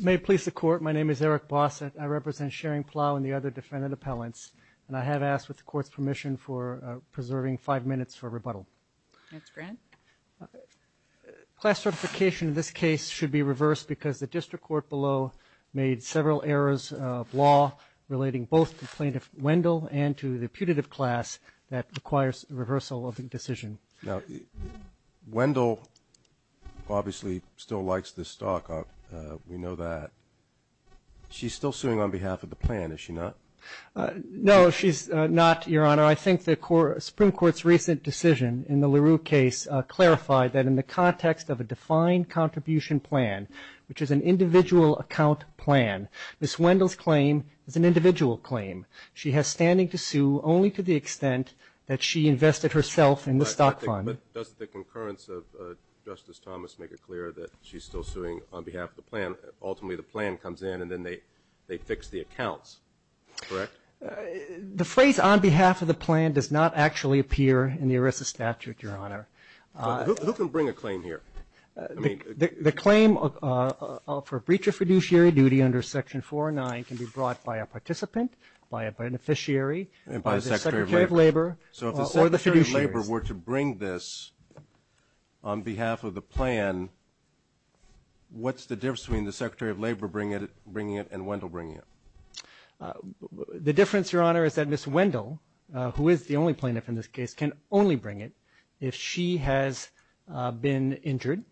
May it please the Court, my name is Eric Bossett. I represent Schering Plough and the other defendant appellants, and I have asked, with the Court's permission, for preserving five minutes for rebuttal. Class certification in this case should be reversed because the District Court below made several errors of law relating both to Plaintiff Wendell and to the putative class that requires reversal of the decision. Now, Wendell obviously still likes this stock. We know that. She's still suing on behalf of the plan, is she not? No, she's not, Your Honor. I think the Supreme Court's recent decision in the LaRue case clarified that in the context of a defined contribution plan, which is an individual account plan, Ms. Wendell's claim is an individual claim. She has standing to sue only to the extent that she invested herself in the stock fund. But doesn't the concurrence of Justice Thomas make it clear that she's still suing on behalf of the plan? Ultimately, the plan comes in and then they fix the accounts, correct? The phrase on behalf of the plan does not actually appear in the ERISA statute, Your Honor. Who can bring a claim here? The claim for breach of fiduciary duty under Section 409 can be brought by a participant, by a beneficiary, by the Secretary of Labor, or the fiduciaries. So if the Secretary of Labor were to bring this on behalf of the plan, what's the difference between the Secretary of Labor bringing it and Wendell bringing it? The difference, Your Honor, is that Ms. Wendell, who is the only plaintiff in this case, can only bring it if she has been injured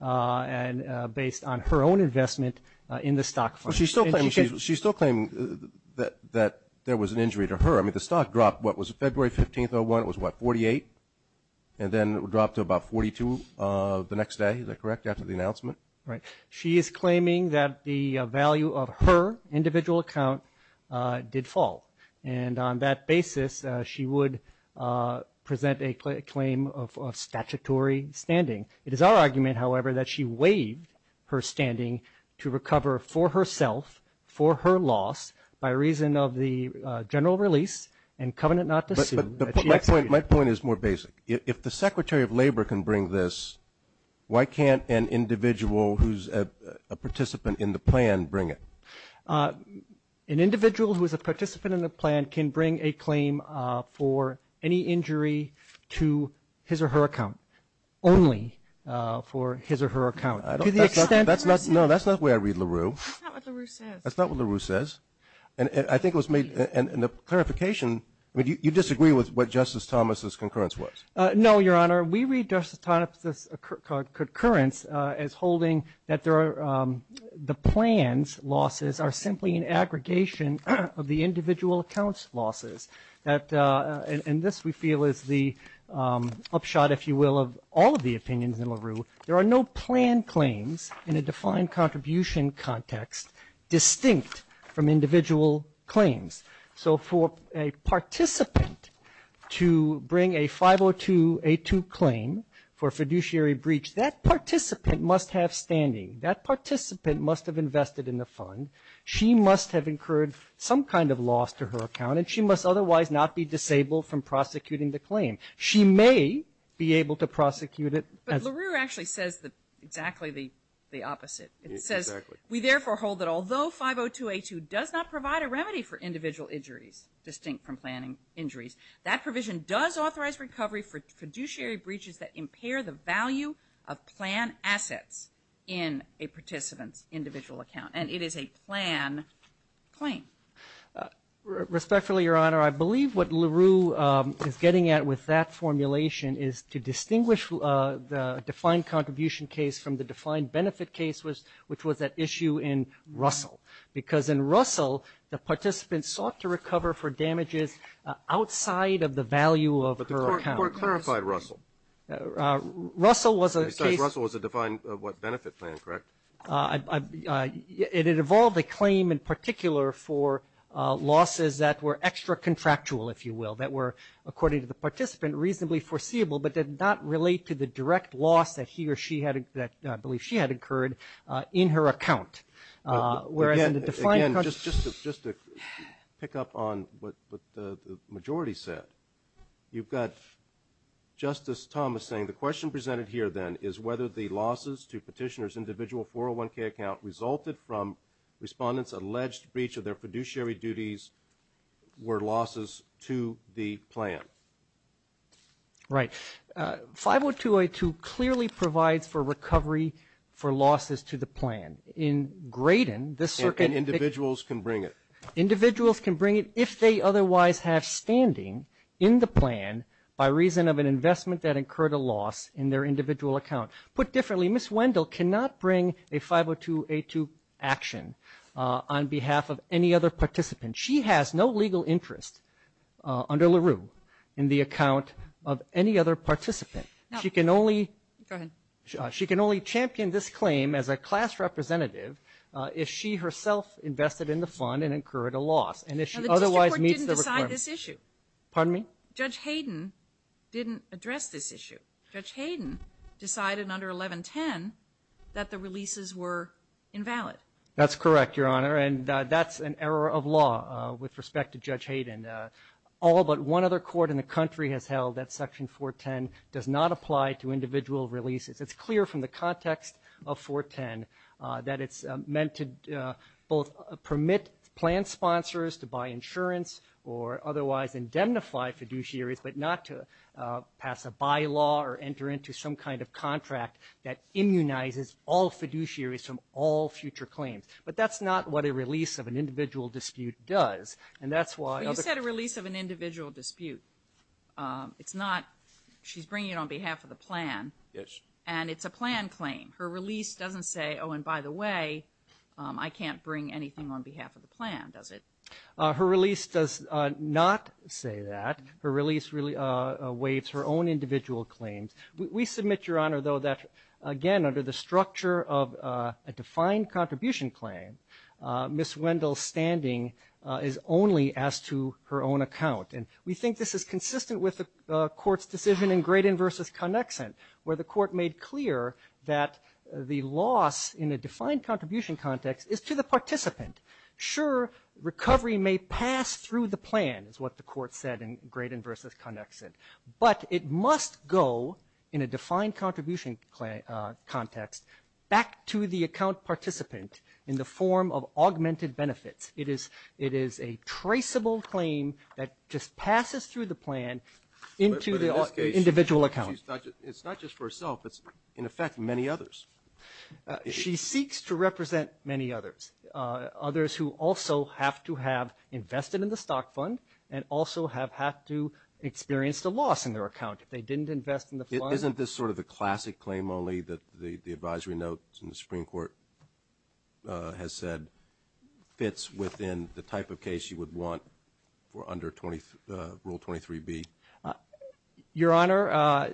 and based on her own investment in the stock fund. She's still claiming that there was an injury to her. I mean, the stock dropped, what, was it February 15th, 2001? It was, what, 48? And then it dropped to about 42 the next day, is that correct, after the announcement? Right. She is claiming that the value of her individual account did fall. And on that basis, she would present a claim of statutory standing. It is our argument, however, that she waived her standing to recover for herself, for her loss, by reason of the general release and covenant not to sue that she executed. My point is more basic. If the Secretary of Labor can bring this, why can't an individual who's a participant in the plan bring it? An individual who is a participant in the plan can bring a claim for any injury to his or her account, only for his or her account. To the extent that's not, no, that's not the way I read LaRue. That's not what LaRue says. That's not what LaRue says. And I think it was made, and the clarification, I mean, you disagree with what Justice Thomas' concurrence was? No, Your Honor. We read Justice Thomas' concurrence as holding that there are, the plan's losses are simply an aggregation of the individual account's losses. And this we feel is the upshot, if you will, of all of the opinions in LaRue. There are no plan claims in a defined contribution context distinct from individual claims. So for a participant to bring a 502A2 claim for a fiduciary breach, that participant must have standing. That participant must have invested in the fund. She must have incurred some kind of loss to her account, and she must otherwise not be disabled from prosecuting the claim. She may be able to prosecute it. But LaRue actually says exactly the opposite. It says, we therefore hold that although 502A2 does not provide a remedy for individual injuries distinct from planning injuries, that provision does authorize recovery for fiduciary breaches that impair the value of plan assets in a participant's individual account. And it is a plan claim. Respectfully, Your Honor, I believe what LaRue is getting at with that formulation is to distinguish the defined contribution case from the defined benefit case, which was at issue in Russell. Because in Russell, the participant sought to recover for damages outside of the value of her account. But the Court clarified Russell. Russell was a case. Besides, Russell was a defined what? Benefit plan, correct? It involved a claim in particular for losses that were extra contractual, if you will, that were, according to the participant, reasonably foreseeable, but did not relate to the direct loss that he or she had, that I believe she had incurred in her account. Whereas in the defined contribution case. Again, just to pick up on what the majority said. You've got Justice Thomas saying the question presented here then is whether the losses to petitioner's individual 401k account resulted from respondents' alleged breach of their fiduciary duties were losses to the plan. Right. 50202 clearly provides for recovery for losses to the plan. In Graydon, this circuit. And individuals can bring it. Individuals can bring it if they otherwise have standing in the plan by reason of an investment that incurred a loss in their individual account. Put differently, Ms. Wendell cannot bring a 50202 action on behalf of any other participant. She has no legal interest under LaRue in the account of any other participant. She can only. Go ahead. She can only champion this claim as a class representative if she herself invested in the fund and incurred a loss. And if she otherwise meets the requirement. The district court didn't decide this issue. Pardon me? Judge Hayden didn't address this issue. Judge Hayden decided under 1110 that the releases were invalid. That's correct, Your Honor. And that's an error of law with respect to Judge Hayden. All but one other court in the country has held that section 410 does not apply to individual releases. It's clear from the context of 410 that it's meant to both permit plan sponsors to buy insurance or otherwise indemnify fiduciaries but not to pass a bylaw or enter into some kind of contract that immunizes all fiduciaries from all future claims. But that's not what a release of an individual dispute does. And that's why. You said a release of an individual dispute. It's not. She's bringing it on behalf of the plan. Yes. And it's a plan claim. Her release doesn't say, oh, and by the way, I can't bring anything on behalf of the plan, does it? Her release does not say that. Her release waives her own individual claims. We submit, Your Honor, though, that again, under the structure of a defined contribution claim, Ms. Wendell's standing is only as to her own account. And we think this is consistent with the court's decision in Graydon v. Connexent, where the court made clear that the loss in a defined contribution context is to the participant. Sure, recovery may pass through the plan, is what the court said in Graydon v. Connexent. But it must go in a defined contribution context back to the account participant in the form of augmented benefits. It is a traceable claim that just passes through the plan into the individual account. But in this case, it's not just for herself. It's, in effect, many others. She seeks to represent many others. Others who also have to have invested in the stock fund and also have had to experience the loss in their account if they didn't invest in the fund. Isn't this sort of the classic claim only that the advisory notes in the Supreme Court has said fits within the type of case you would want for under Rule 23B? Your Honor,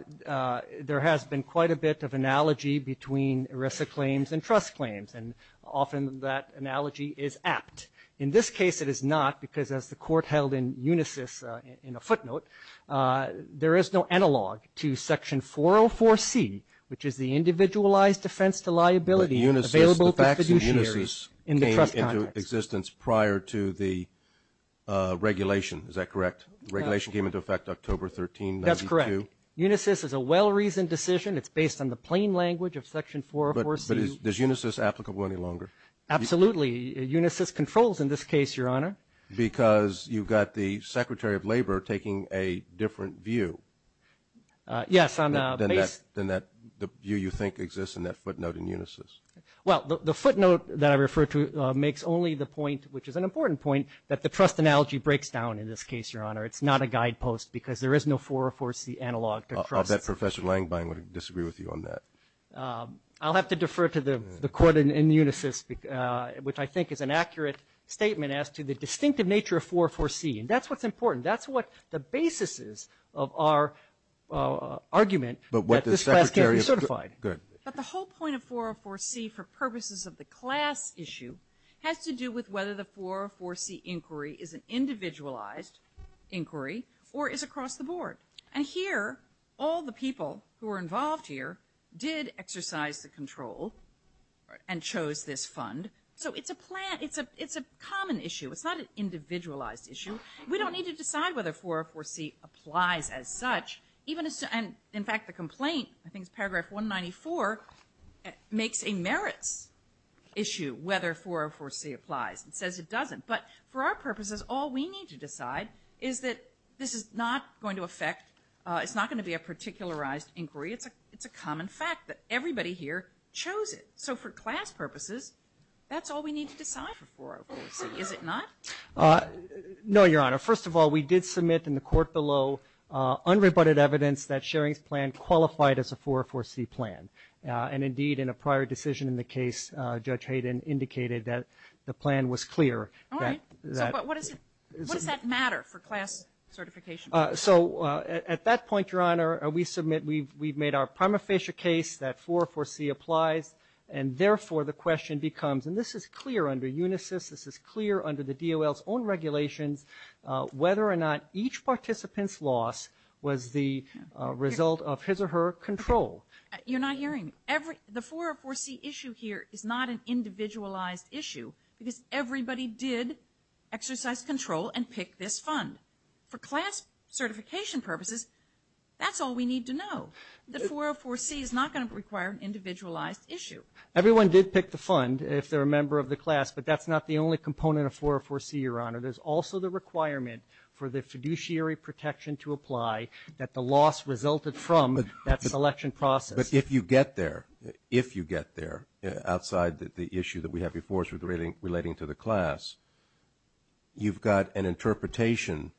there has been quite a bit of analogy between ERISA claims and trust claims. And often, that analogy is apt. In this case, it is not, because as the court held in UNISYS in a footnote, there is no analog to Section 404C, which is the individualized defense to liability available to fiduciaries in the trust context. But UNISYS, the facts in UNISYS came into existence prior to the regulation. Is that correct? The regulation came into effect October 13, 1992. That's correct. UNISYS is a well-reasoned decision. It's based on the plain language of Section 404C. But is UNISYS applicable any longer? Absolutely. UNISYS controls in this case, Your Honor. Because you've got the Secretary of Labor taking a different view. Yes, on a base. Than that, the view you think exists in that footnote in UNISYS. Well, the footnote that I refer to makes only the point, which is an important point, that the trust analogy breaks down in this case, Your Honor. It's not a guidepost, because there is no 404C analog to trust. I'll bet Professor Langbein would disagree with you on that. I'll have to defer to the court in UNISYS, which I think is an accurate statement as to the distinctive nature of 404C. And that's what's important. That's what the basis is of our argument that this class can't be certified. But the whole point of 404C for purposes of the class issue has to do with whether the 404C inquiry is an individualized inquiry or is across the board. And here, all the people who are involved here did exercise the control and chose this fund. So it's a plan, it's a common issue. It's not an individualized issue. We don't need to decide whether 404C applies as such. Even as, and in fact, the complaint, I think it's paragraph 194, makes a merits issue whether 404C applies. It says it doesn't. But for our purposes, all we need to decide is that this is not going to affect, it's not going to be a particularized inquiry. It's a common fact that everybody here chose it. So for class purposes, that's all we need to decide for 404C, is it not? No, Your Honor. First of all, we did submit in the court below unrebutted evidence that Schering's plan qualified as a 404C plan. And indeed, in a prior decision in the case, Judge Hayden indicated that the plan was clear. So what does that matter for class certification? So at that point, Your Honor, we've made our prima facie case that 404C applies. And therefore, the question becomes, and this is clear under Unisys, this is clear under the DOL's own regulations, whether or not each participant's loss was the result of his or her control. You're not hearing me. The 404C issue here is not an individualized issue, because everybody did exercise control and pick this fund. For class certification purposes, that's all we need to know. The 404C is not going to require an individualized issue. Everyone did pick the fund if they're a member of the class, but that's not the only component of 404C, Your Honor. There's also the requirement for the fiduciary protection to apply that the loss resulted from that selection process. But if you get there, if you get there, outside the issue that we have before us relating to the class, you've got an interpretation,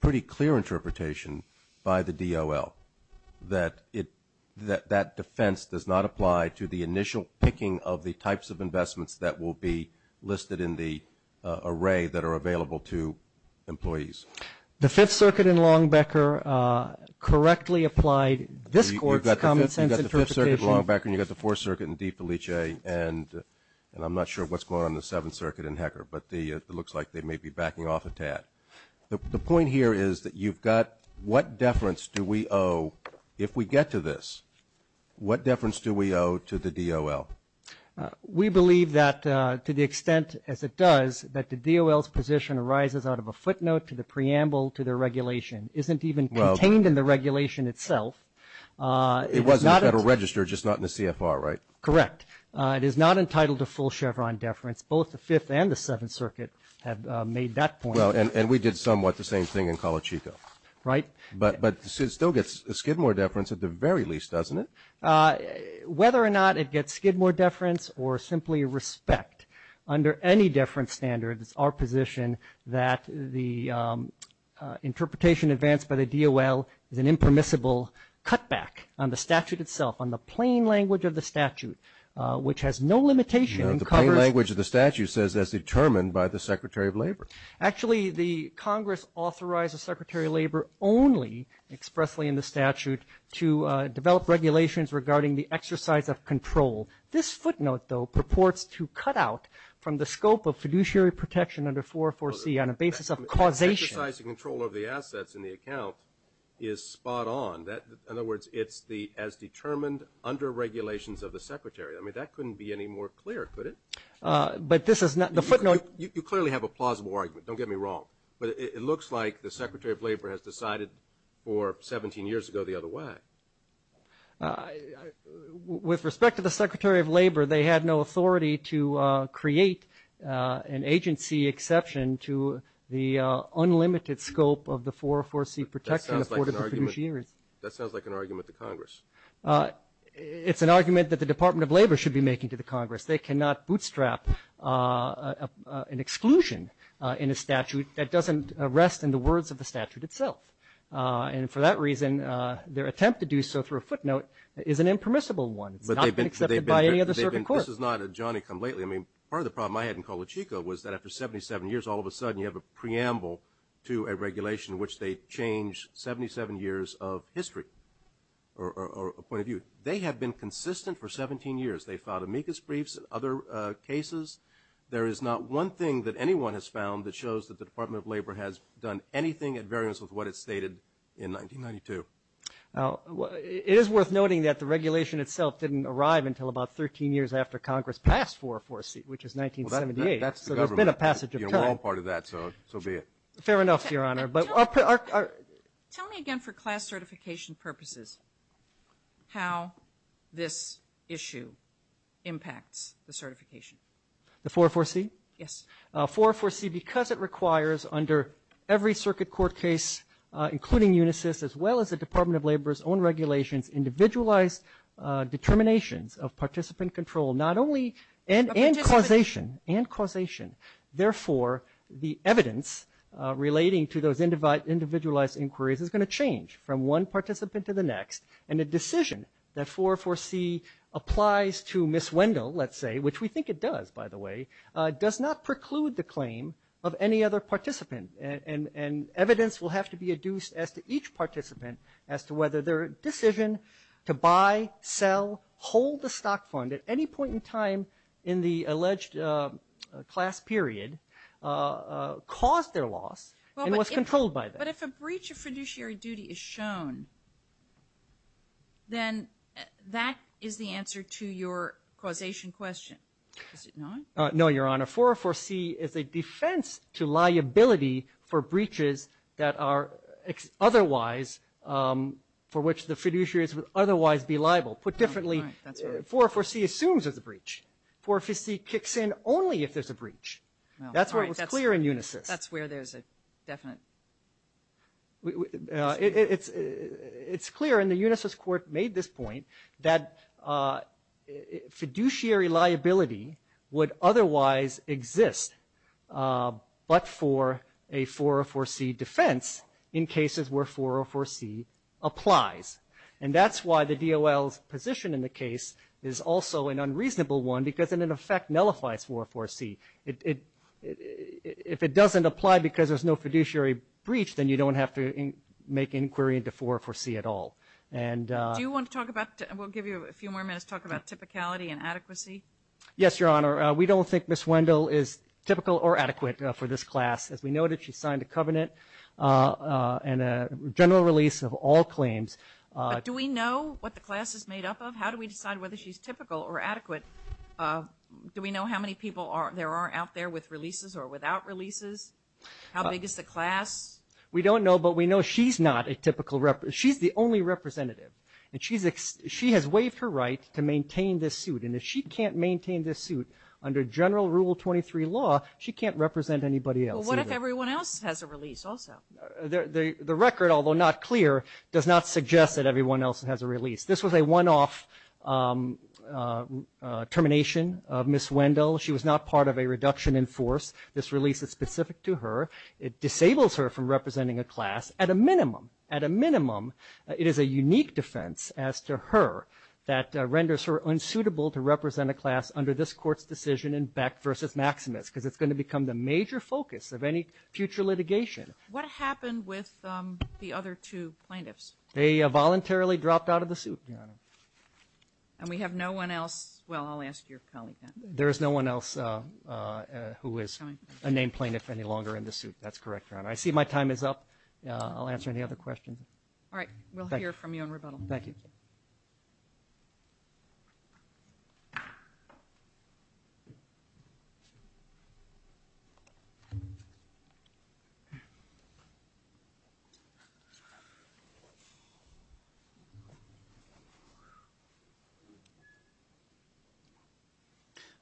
pretty clear interpretation by the DOL that that defense does not apply to the initial picking of the types of investments that will be listed in the array that are available to employees. The Fifth Circuit in Long Becker correctly applied this court's common sense interpretation. Long Becker, and you've got the Fourth Circuit and DeFelice, and I'm not sure what's going on in the Seventh Circuit and Hecker, but it looks like they may be backing off a tad. The point here is that you've got what deference do we owe, if we get to this, what deference do we owe to the DOL? We believe that, to the extent as it does, that the DOL's position arises out of a footnote to the preamble to their regulation. Isn't even contained in the regulation itself. It was not in the Federal Register, just not in the CFR, right? Correct. It is not entitled to full Chevron deference. Both the Fifth and the Seventh Circuit have made that point. Well, and we did somewhat the same thing in Colachico. Right. But it still gets a skid more deference at the very least, doesn't it? Whether or not it gets skid more deference or simply respect, under any deference standards, it's our position that the interpretation advanced by the DOL is an impermissible cutback on the statute itself, on the plain language of the statute, which has no limitation. The plain language of the statute says that's determined by the Secretary of Labor. Actually, the Congress authorized the Secretary of Labor only expressly in the statute to develop regulations regarding the exercise of control. This footnote, though, purports to cut out from the scope of fiduciary protection under 404C on a basis of causation. The exercise of control of the assets in the account is spot on. In other words, it's the as determined under regulations of the Secretary. I mean, that couldn't be any more clear, could it? But this is not the footnote. You clearly have a plausible argument. Don't get me wrong. But it looks like the Secretary of Labor has decided for 17 years ago the other way. With respect to the Secretary of Labor, they had no authority to create an agency exception to the unlimited scope of the 404C protection afforded to fiduciaries. That sounds like an argument to Congress. It's an argument that the Department of Labor should be making to the Congress. They cannot bootstrap an exclusion in a statute that doesn't rest in the words of the statute itself. And for that reason, their attempt to do so through a footnote is an impermissible one. It's not been accepted by any other circuit court. This is not a Johnny-come-lately. I mean, part of the problem I had in Colachico was that after 77 years, all of a sudden you have a preamble to a regulation in which they change 77 years of history or a point of view. They have been consistent for 17 years. They filed amicus briefs in other cases. There is not one thing that anyone has found that shows that the Department of Labor has done anything at variance with what it stated in 1992. It is worth noting that the regulation itself didn't arrive until about 13 years after Congress passed 404C, which is 1978. So there's been a passage of time. We're all part of that, so be it. Fair enough, Your Honor. Tell me again for class certification purposes how this issue impacts the certification. The 404C? Yes. 404C, because it requires under every circuit court case, including Unisys, as well as the Department of Labor's own regulations, individualized determinations of participant control, not only and causation, therefore the evidence relating to those individualized inquiries is going to change from one participant to the next. And a decision that 404C applies to Ms. Wendell, let's say, which we think it does, by the way, does not preclude the claim of any other participant. And evidence will have to be adduced as to each participant as to whether their decision to buy, sell, hold the stock fund at any point in time in the alleged class period caused their loss and was controlled by them. But if a breach of fiduciary duty is shown, then that is the answer to your causation question, is it not? No, Your Honor. 404C is a defense to liability for breaches that are otherwise, for which the fiduciaries would otherwise be liable. Put differently, 404C assumes there's a breach. 404C kicks in only if there's a breach. That's what was clear in Unisys. That's where there's a definite... It's clear, and the Unisys court made this point, that fiduciary liability would otherwise exist but for a 404C defense in cases where 404C applies. And that's why the DOL's position in the case is also an unreasonable one because it in effect nullifies 404C. If it doesn't apply because there's no fiduciary breach, then you don't have to make inquiry into 404C at all. Do you want to talk about... We'll give you a few more minutes to talk about typicality and adequacy. Yes, Your Honor. We don't think Ms. Wendell is typical or adequate for this class. As we noted, she signed a covenant and a general release of all claims. But do we know what the class is made up of? How do we decide whether she's typical or adequate? Do we know how many people there are out there with releases or without releases? How big is the class? We don't know, but we know she's not a typical representative. She's the only representative, and she has waived her right to maintain this suit. And if she can't maintain this suit under general Rule 23 law, she can't represent anybody else either. Well, what if everyone else has a release also? The record, although not clear, does not suggest that everyone else has a release. This was a one-off termination of Ms. Wendell. She was not part of a reduction in force. This release is specific to her. It disables her from representing a class at a minimum. At a minimum, it is a unique defense as to her that renders her unsuitable to represent a class under this Court's decision in Beck v. Maximus because it's going to become the major focus of any future litigation. What happened with the other two plaintiffs? They voluntarily dropped out of the suit, Your Honor. And we have no one else? Well, I'll ask your colleague that. There is no one else who is a named plaintiff any longer in the suit. That's correct, Your Honor. I see my time is up. I'll answer any other questions. All right. We'll hear from you in rebuttal. Thank you. Thank you.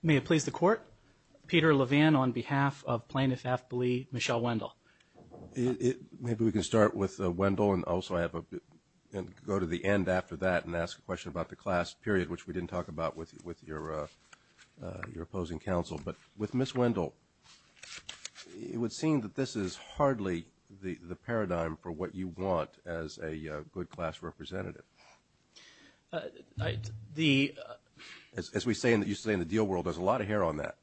May it please the Court. Peter Levin on behalf of Plaintiff-Affably Michelle Wendell. Maybe we can start with Wendell and also go to the end after that and ask a question about the class period, which we didn't talk about with your opposing counsel. But with Ms. Wendell, it would seem that this is hardly the paradigm for what you want as a good class representative. As you say in the deal world, there's a lot of hair on that.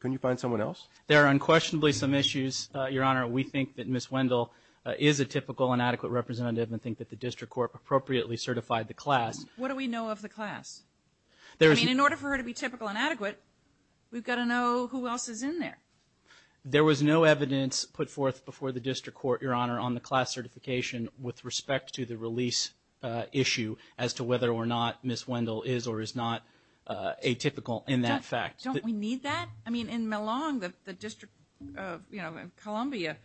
Can you find someone else? There are unquestionably some issues, Your Honor. We think that Ms. Wendell is a typical and adequate representative and think that the district court appropriately certified the class. What do we know of the class? I mean, in order for her to be typical and adequate, we've got to know who else is in there. There was no evidence put forth before the district court, Your Honor, on the class certification with respect to the release issue as to whether or not Ms. Wendell is or is not atypical in that fact. Don't we need that? I mean, in Millong, the District of Columbia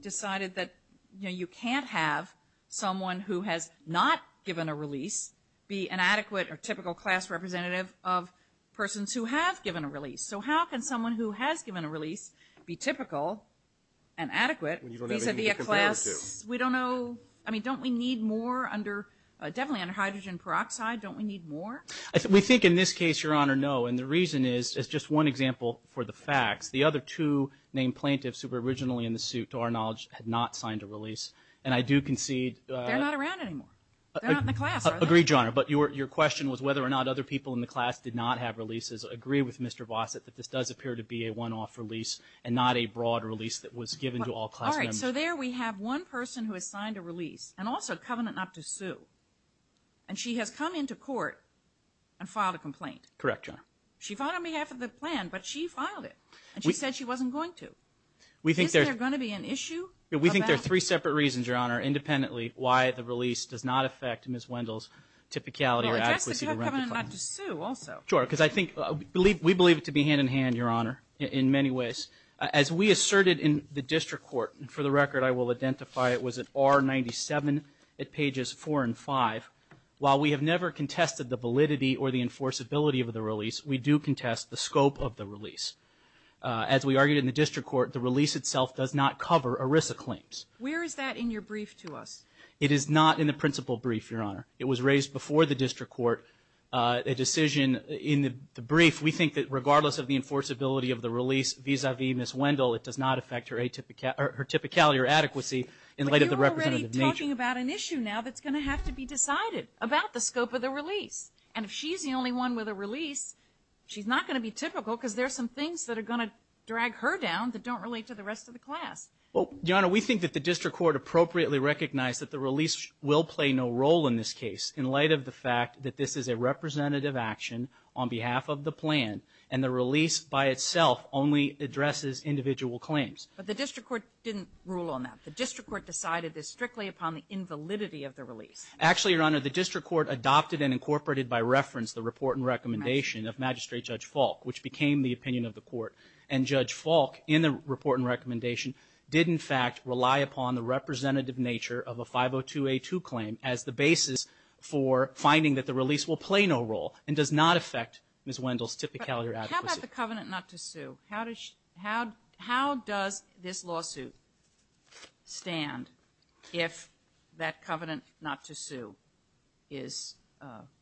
decided that you can't have someone who has not given a release be an adequate or typical class representative of persons who have given a release. So how can someone who has given a release be typical and adequate? When you don't have anything to compare it to. I mean, don't we need more? Definitely under hydrogen peroxide, don't we need more? We think in this case, Your Honor, no. And the reason is just one example for the facts. The other two named plaintiffs who were originally in the suit, to our knowledge, had not signed a release. And I do concede. They're not around anymore. They're not in the class, are they? Agreed, Your Honor. But your question was whether or not other people in the class did not have releases. I agree with Mr. Vossett that this does appear to be a one-off release and not a broad release that was given to all class members. All right, so there we have one person who has signed a release and also covenant not to sue. And she has come into court and filed a complaint. Correct, Your Honor. She filed it on behalf of the plan, but she filed it. And she said she wasn't going to. Isn't there going to be an issue? We think there are three separate reasons, Your Honor, independently why the release does not affect Ms. Wendell's typicality or adequacy to write the claim. Well, that's the covenant not to sue also. Sure, because I think we believe it to be hand-in-hand, Your Honor, in many ways. As we asserted in the district court, and for the record I will identify it was at R97 at pages 4 and 5, while we have never contested the validity or the enforceability of the release, we do contest the scope of the release. As we argued in the district court, the release itself does not cover ERISA claims. Where is that in your brief to us? It is not in the principal brief, Your Honor. It was raised before the district court, a decision in the brief. We think that regardless of the enforceability of the release vis-à-vis Ms. Wendell, it does not affect her typicality or adequacy in light of the representative nature. But you're already talking about an issue now that's going to have to be decided about the scope of the release. And if she's the only one with a release, she's not going to be typical because there are some things that are going to drag her down that don't relate to the rest of the class. Well, Your Honor, we think that the district court appropriately recognized that the release will play no role in this case in light of the fact that this is a representative action on behalf of the plan, and the release by itself only addresses individual claims. But the district court didn't rule on that. The district court decided this strictly upon the invalidity of the release. Actually, Your Honor, the district court adopted and incorporated by reference the report and recommendation of Magistrate Judge Falk, which became the opinion of the court. And Judge Falk, in the report and recommendation, did in fact rely upon the representative nature of a 502A2 claim as the basis for finding that the release will play no role and does not affect Ms. Wendell's typicality or adequacy. How about the covenant not to sue? How does this lawsuit stand if that covenant not to sue is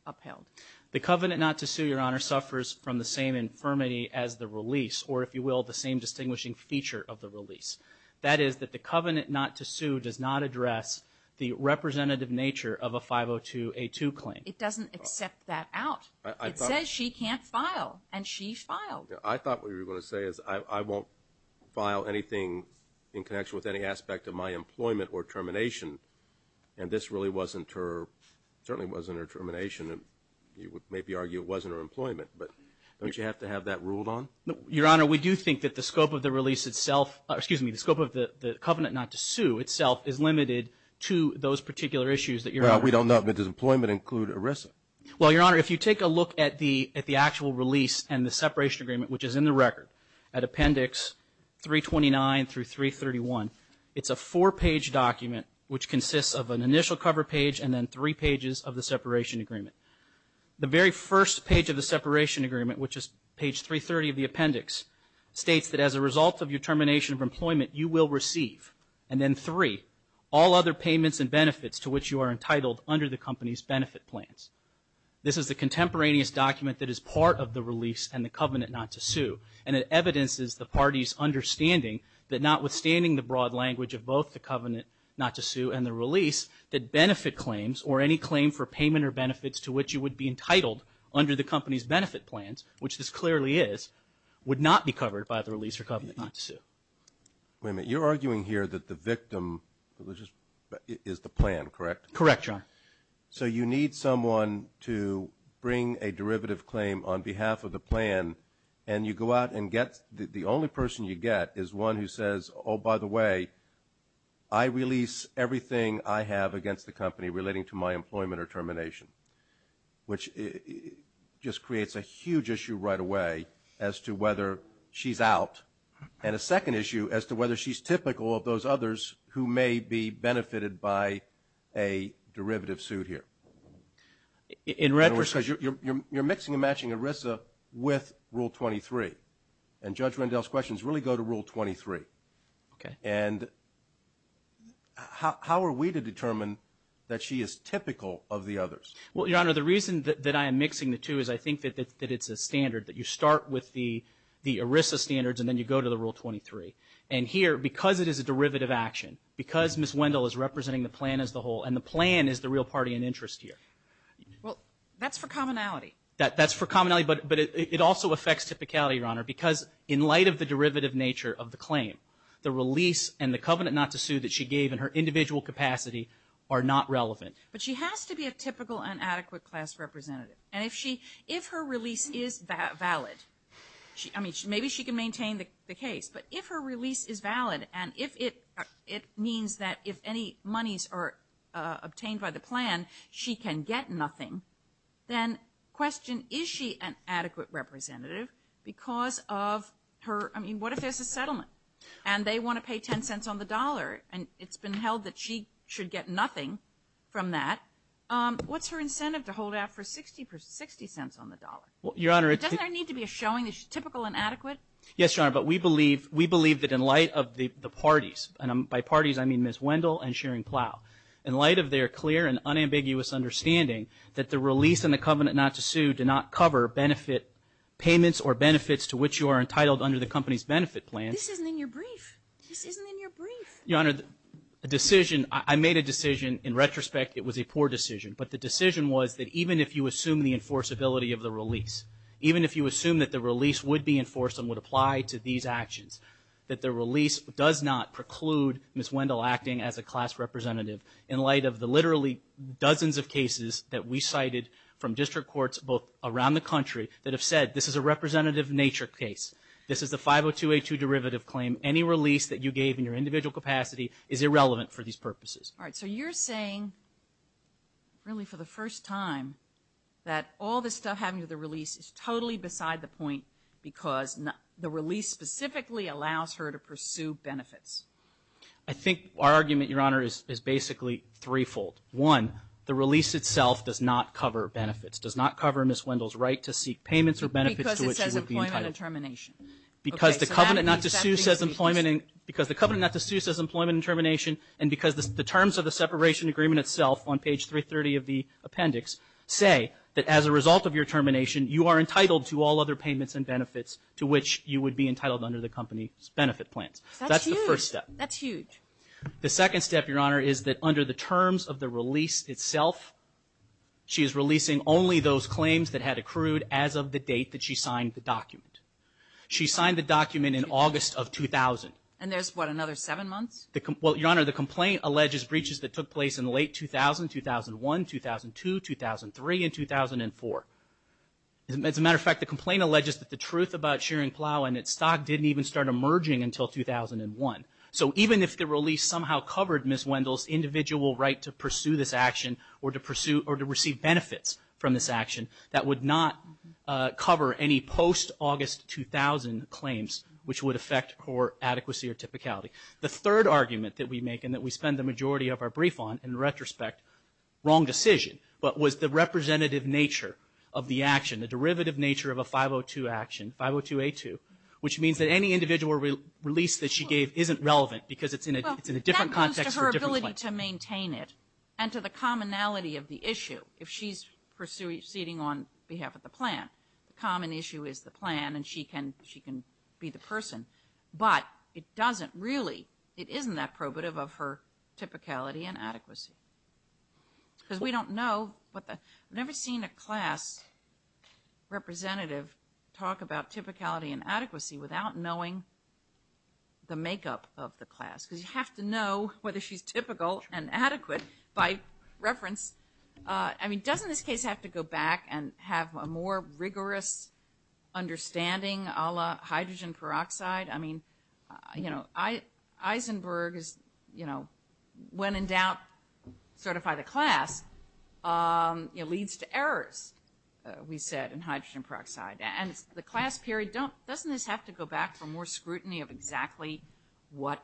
upheld? The covenant not to sue, Your Honor, suffers from the same infirmity as the release, or if you will, the same distinguishing feature of the release. That is that the covenant not to sue does not address the representative nature of a 502A2 claim. It doesn't accept that out. It says she can't file, and she filed. I thought what you were going to say is I won't file anything in connection with any aspect of my employment or termination, and this really wasn't her, certainly wasn't her termination, and you would maybe argue it wasn't her employment. But don't you have to have that ruled on? Your Honor, we do think that the scope of the release itself, excuse me, the scope of the covenant not to sue itself is limited to those particular issues that Your Honor. Well, we don't know, but does employment include ERISA? Well, Your Honor, if you take a look at the actual release and the separation agreement, which is in the record at appendix 329 through 331, it's a four-page document, which consists of an initial cover page and then three pages of the separation agreement. The very first page of the separation agreement, which is page 330 of the appendix, states that as a result of your termination of employment, you will receive, and then three, all other payments and benefits to which you are entitled under the company's benefit plans. This is the contemporaneous document that is part of the release and the covenant not to sue, and it evidences the party's understanding that notwithstanding the broad language of both the covenant not to sue and the release, that benefit claims or any claim for payment or benefits to which you would be entitled under the company's benefit plans, which this clearly is, would not be covered by the release or covenant not to sue. Wait a minute. You're arguing here that the victim is the plan, correct? Correct, Your Honor. So you need someone to bring a derivative claim on behalf of the plan, and you go out and the only person you get is one who says, oh, by the way, I release everything I have against the company relating to my employment or termination, which just creates a huge issue right away as to whether she's out, and a second issue as to whether she's typical of those others who may be benefited by a derivative suit here. In retrospect, you're mixing and matching ERISA with Rule 23, and Judge Rendell's questions really go to Rule 23. Okay. And how are we to determine that she is typical of the others? Well, Your Honor, the reason that I am mixing the two is I think that it's a standard, that you start with the ERISA standards and then you go to the Rule 23. And here, because it is a derivative action, because Ms. Wendell is representing the plan as the whole, and the plan is the real party in interest here. Well, that's for commonality. That's for commonality, but it also affects typicality, Your Honor, because in light of the derivative nature of the claim, the release and the covenant not to sue that she gave in her individual capacity are not relevant. But she has to be a typical and adequate class representative. And if her release is valid, I mean, maybe she can maintain the case, but if her release is valid and it means that if any monies are obtained by the plan, she can get nothing, then question, is she an adequate representative because of her, I mean, what if there's a settlement and they want to pay 10 cents on the dollar and it's been held that she should get nothing from that, what's her incentive to hold out for 60 cents on the dollar? Doesn't there need to be a showing that she's typical and adequate? Yes, Your Honor, but we believe that in light of the parties, and by parties I mean Ms. Wendell and Shearing Plough, in light of their clear and unambiguous understanding that the release and the covenant not to sue do not cover benefit payments or benefits to which you are entitled under the company's benefit plan. This isn't in your brief. This isn't in your brief. Your Honor, the decision, I made a decision in retrospect. It was a poor decision, but the decision was that even if you assume the enforceability of the release, even if you assume that the release would be enforced and would apply to these actions, that the release does not preclude Ms. Wendell acting as a class representative in light of the literally dozens of cases that we cited from district courts both around the country that have said this is a representative nature case. This is the 502A2 derivative claim. Any release that you gave in your individual capacity is irrelevant for these purposes. All right, so you're saying really for the first time that all this stuff having to do with the release is totally beside the point because the release specifically allows her to pursue benefits. I think our argument, Your Honor, is basically threefold. One, the release itself does not cover benefits, does not cover Ms. Wendell's right to seek payments or benefits to which she would be entitled. Because it says employment and termination. Because the covenant not to sue says employment and termination, and because the terms of the separation agreement itself on page 330 of the appendix say that as a result of your termination, you are entitled to all other payments and benefits to which you would be entitled under the company's benefit plans. That's the first step. That's huge. The second step, Your Honor, is that under the terms of the release itself, she is releasing only those claims that had accrued as of the date that she signed the document. She signed the document in August of 2000. And there's what, another seven months? Well, Your Honor, the complaint alleges breaches that took place in late 2000, 2001, 2002, 2003, and 2004. As a matter of fact, the complaint alleges that the truth about Shearing Plow and its stock didn't even start emerging until 2001. So even if the release somehow covered Ms. Wendell's individual right to pursue this action or to pursue or to receive benefits from this action, that would not cover any post-August 2000 claims which would affect her adequacy or typicality. The third argument that we make and that we spend the majority of our brief on, in retrospect, wrong decision, but was the representative nature of the action, the derivative nature of a 502 action, 502A2, which means that any individual release that she gave isn't relevant because it's in a different context. It's to her ability to maintain it and to the commonality of the issue. If she's proceeding on behalf of the plan, the common issue is the plan and she can be the person. But it doesn't really, it isn't that probative of her typicality and adequacy. Because we don't know, I've never seen a class representative talk about typicality and adequacy without knowing the makeup of the class. Because you have to know whether she's typical and adequate by reference. I mean, doesn't this case have to go back and have a more rigorous understanding a la hydrogen peroxide? I mean, you know, Eisenberg is, you know, when in doubt, certify the class. It leads to errors, we said, in hydrogen peroxide. And the class period, doesn't this have to go back for more scrutiny of exactly what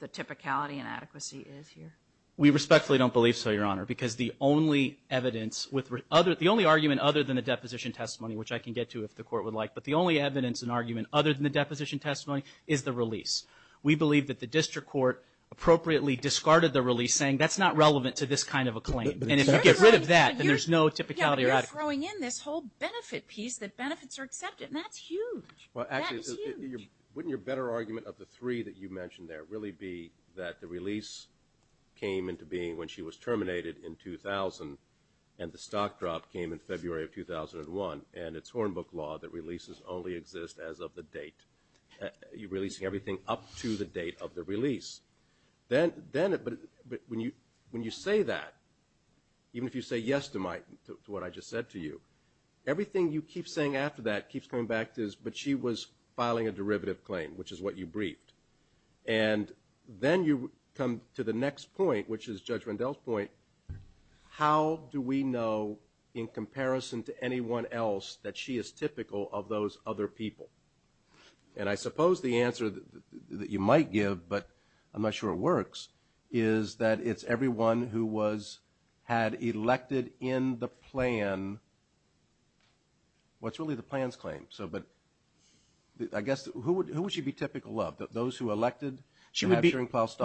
the typicality and adequacy is here? We respectfully don't believe so, Your Honor. Because the only evidence, the only argument other than the deposition testimony, which I can get to if the court would like, but the only evidence and argument other than the deposition testimony is the release. We believe that the district court appropriately discarded the release, saying that's not relevant to this kind of a claim. And if you get rid of that, then there's no typicality or adequacy. You're throwing in this whole benefit piece that benefits are accepted. And that's huge. That is huge. Well, actually, wouldn't your better argument of the three that you mentioned there really be that the release came into being when she was terminated in 2000, and the stock drop came in February of 2001, and it's Hornbook law that releases only exist as of the date. You're releasing everything up to the date of the release. But when you say that, even if you say yes to what I just said to you, everything you keep saying after that keeps coming back to this, but she was filing a derivative claim, which is what you briefed. And then you come to the next point, which is Judge Rendell's point, how do we know in comparison to anyone else that she is typical of those other people? And I suppose the answer that you might give, but I'm not sure it works, is that it's everyone who had elected in the plan what's really the plan's claim. But I guess who would she be typical of, those who elected? She would be typical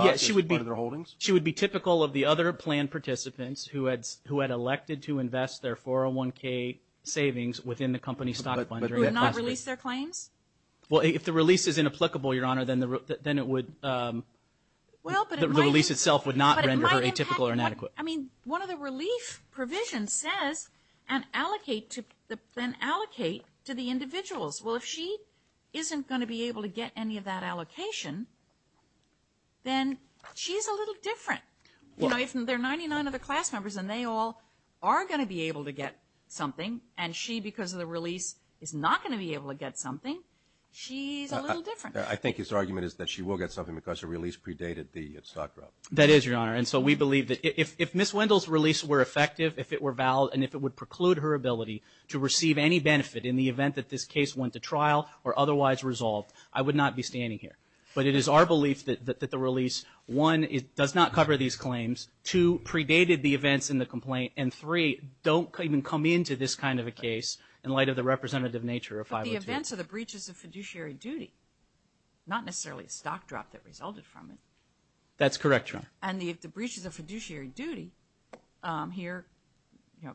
of the other plan participants who had elected to invest their 401K savings within the company stock fund. But who had not released their claims? Well, if the release is inapplicable, Your Honor, then the release itself would not render her atypical or inadequate. I mean, one of the relief provisions says, and allocate to the individuals. Well, if she isn't going to be able to get any of that allocation, then she's a little different. If there are 99 other class members and they all are going to be able to get something, and she, because of the release, is not going to be able to get something, she's a little different. I think his argument is that she will get something because her release predated the stock drop. That is, Your Honor. And so we believe that if Ms. Wendell's release were effective, if it were valid, and if it would preclude her ability to receive any benefit in the event that this case went to trial or otherwise resolved, I would not be standing here. But it is our belief that the release, one, does not cover these claims, two, predated the events in the complaint, and three, don't even come into this kind of a case in light of the representative nature of 502. But the events are the breaches of fiduciary duty, not necessarily stock drop that resulted from it. That's correct, Your Honor. And the breaches of fiduciary duty here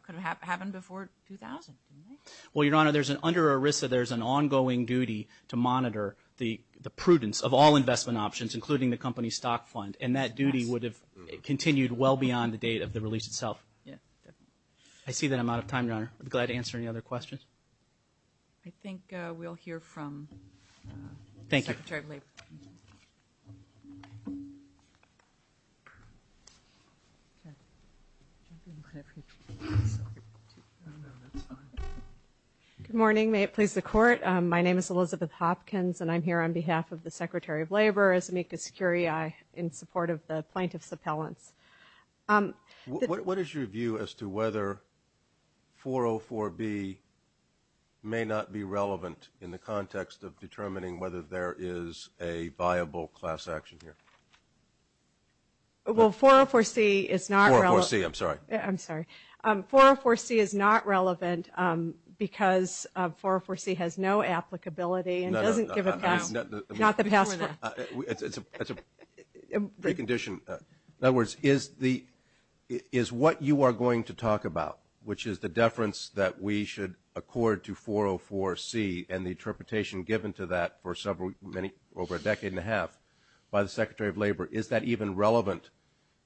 could have happened before 2000, didn't they? Well, Your Honor, under ERISA, there's an ongoing duty to monitor the prudence of all investment options, including the company's stock fund, and that duty would have continued well beyond the date of the release itself. I see that I'm out of time, Your Honor. I'd be glad to answer any other questions. I think we'll hear from the Secretary of Labor. Good morning. May it please the Court. My name is Elizabeth Hopkins, and I'm here on behalf of the Secretary of Labor, as amicus curiae, in support of the plaintiff's appellants. What is your view as to whether 404B may not be relevant in the context of determining whether there is a viable class action here? I'm sorry. No, no, no. It's a precondition. In other words, is what you are going to talk about, which is the deference that we should accord to 404C and the interpretation given to that for over a decade and a half by the Secretary of Labor, is that even relevant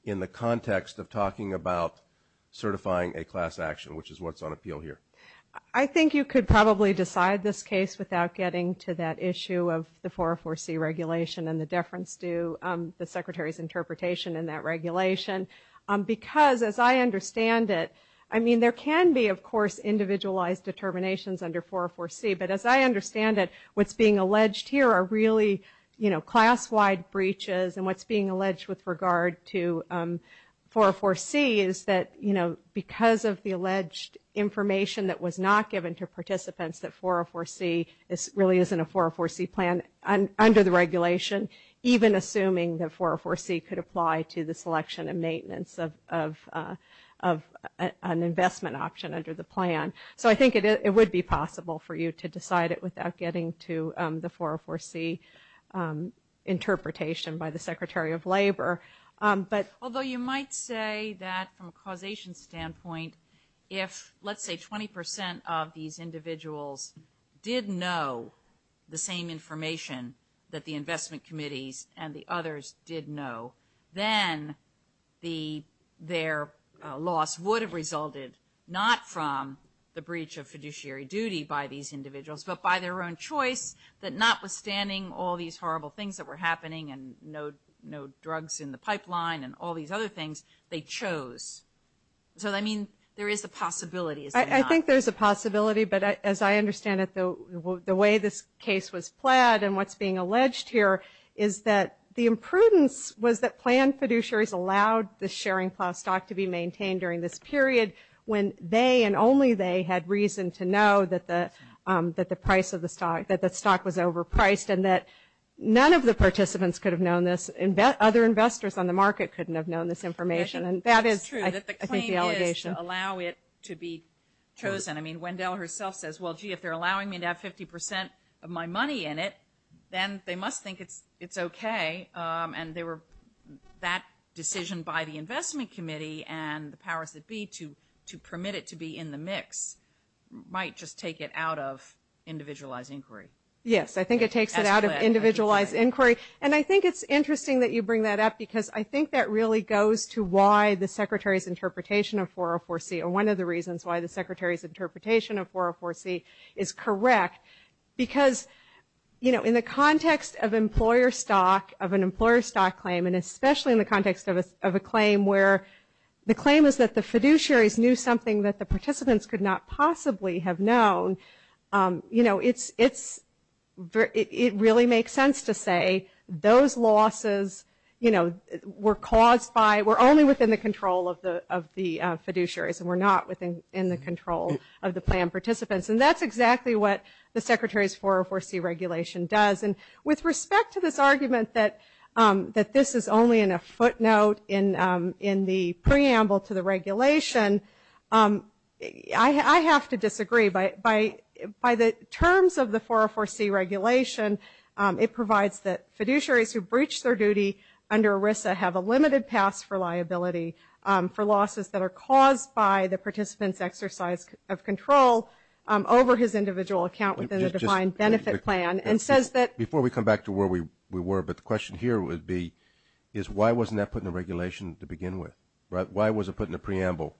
in the context of talking about certifying a class action, which is what's on appeal here? I think you could probably decide this case without getting to that issue of the 404C regulation and the deference to the Secretary's interpretation in that regulation, because as I understand it, I mean, there can be, of course, individualized determinations under 404C, but as I understand it, what's being alleged here are really class-wide breaches, and what's being alleged with regard to 404C is that, you know, because of the alleged information that was not given to participants, that 404C really isn't a 404C plan under the regulation, even assuming that 404C could apply to the selection and maintenance of an investment option under the plan. So I think it would be possible for you to decide it without getting to the 404C interpretation by the Secretary of Labor. Although you might say that from a causation standpoint, if, let's say, 20% of these individuals did know the same information that the investment committees and the others did know, then their loss would have resulted not from the breach of fiduciary duty by these individuals, but by their own choice, that notwithstanding all these horrible things that were happening and no drugs in the pipeline and all these other things, they chose. So, I mean, there is a possibility, is there not? I think there's a possibility, but as I understand it, the way this case was plaid and what's being alleged here is that the imprudence was that plan fiduciaries allowed the sharing class stock to be maintained during this period when they and only they had reason to know that the stock was overpriced and that none of the participants could have known this. Other investors on the market couldn't have known this information. And that is, I think, the allegation. It's true that the claim is to allow it to be chosen. I mean, Wendell herself says, well, gee, if they're allowing me to have 50% of my money in it, then they must think it's okay. And that decision by the investment committee and the powers that be to permit it to be in the mix might just take it out of individualized inquiry. Yes, I think it takes it out of individualized inquiry. And I think it's interesting that you bring that up, because I think that really goes to why the Secretary's interpretation of 404C, or one of the reasons why the Secretary's interpretation of 404C is correct. Because, you know, in the context of employer stock, of an employer stock claim, and especially in the context of a claim where the claim is that the fiduciaries knew something that the participants could not possibly have known, you know, it really makes sense to say those losses, you know, were caused by, were only within the control of the fiduciaries and were not within the control of the plan participants. And that's exactly what the Secretary's 404C regulation does. And with respect to this argument that this is only in a footnote in the preamble to the regulation, I have to disagree. By the terms of the 404C regulation, it provides that fiduciaries who breach their duty under ERISA have a limited pass for liability for losses that are caused by the participant's exercise of control over his individual account within a defined benefit plan and says that. Before we come back to where we were, but the question here would be is why wasn't that put in the regulation to begin with? Why was it put in the preamble?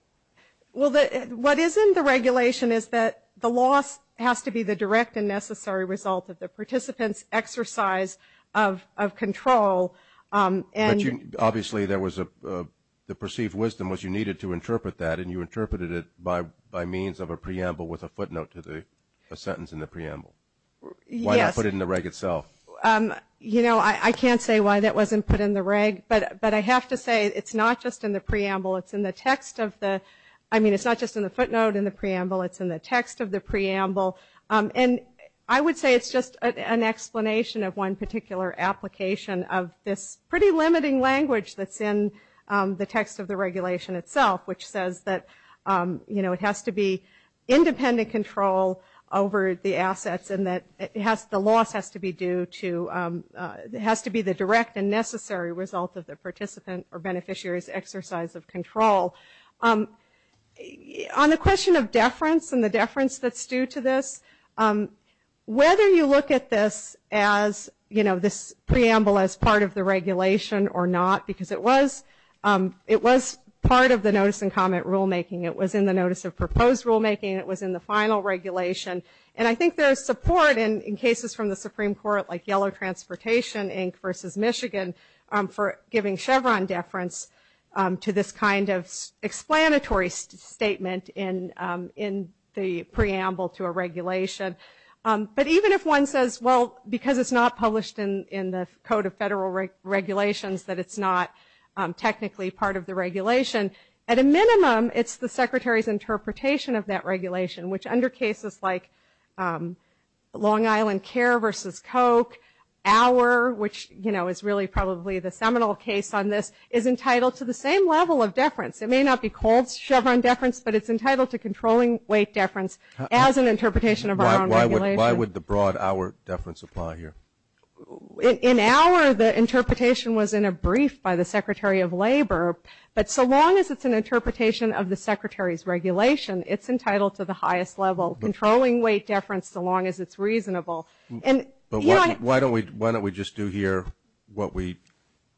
Well, what is in the regulation is that the loss has to be the direct and necessary result of the participant's exercise of control and. Obviously, there was a, the perceived wisdom was you needed to interpret that and you interpreted it by means of a preamble with a footnote to the, a sentence in the preamble. Why not put it in the reg itself? You know, I can't say why that wasn't put in the reg, but I have to say it's not just in the preamble, it's in the text of the, I mean, it's not just in the footnote in the preamble, it's in the text of the preamble. And I would say it's just an explanation of one particular application of this pretty limiting language that's in the text of the regulation itself, which says that, you know, it has to be independent control over the assets and that it has, the loss has to be due to, has to be the direct and necessary result of the participant or beneficiary's exercise of control. On the question of deference and the deference that's due to this, whether you look at this as, you know, this preamble as part of the regulation or not, because it was, it was part of the notice and comment rulemaking, it was in the notice of proposed rulemaking, it was in the final regulation, and I think there is support in cases from the Supreme Court like Yellow Transportation Inc. versus Michigan for giving Chevron deference to this kind of explanatory statement in the preamble to a regulation. But even if one says, well, because it's not published in the Code of Federal Regulations, that it's not technically part of the regulation, at a minimum, it's the Secretary's interpretation of that regulation, which under cases like Long Island Care versus Coke, our, which, you know, is really probably the seminal case on this, is entitled to the same level of deference. It may not be cold Chevron deference, but it's entitled to controlling weight deference as an interpretation of our own regulation. Why would the broad hour deference apply here? In hour, the interpretation was in a brief by the Secretary of Labor, but so long as it's an interpretation of the Secretary's regulation, it's entitled to the highest level, controlling weight deference so long as it's reasonable. But why don't we just do here what we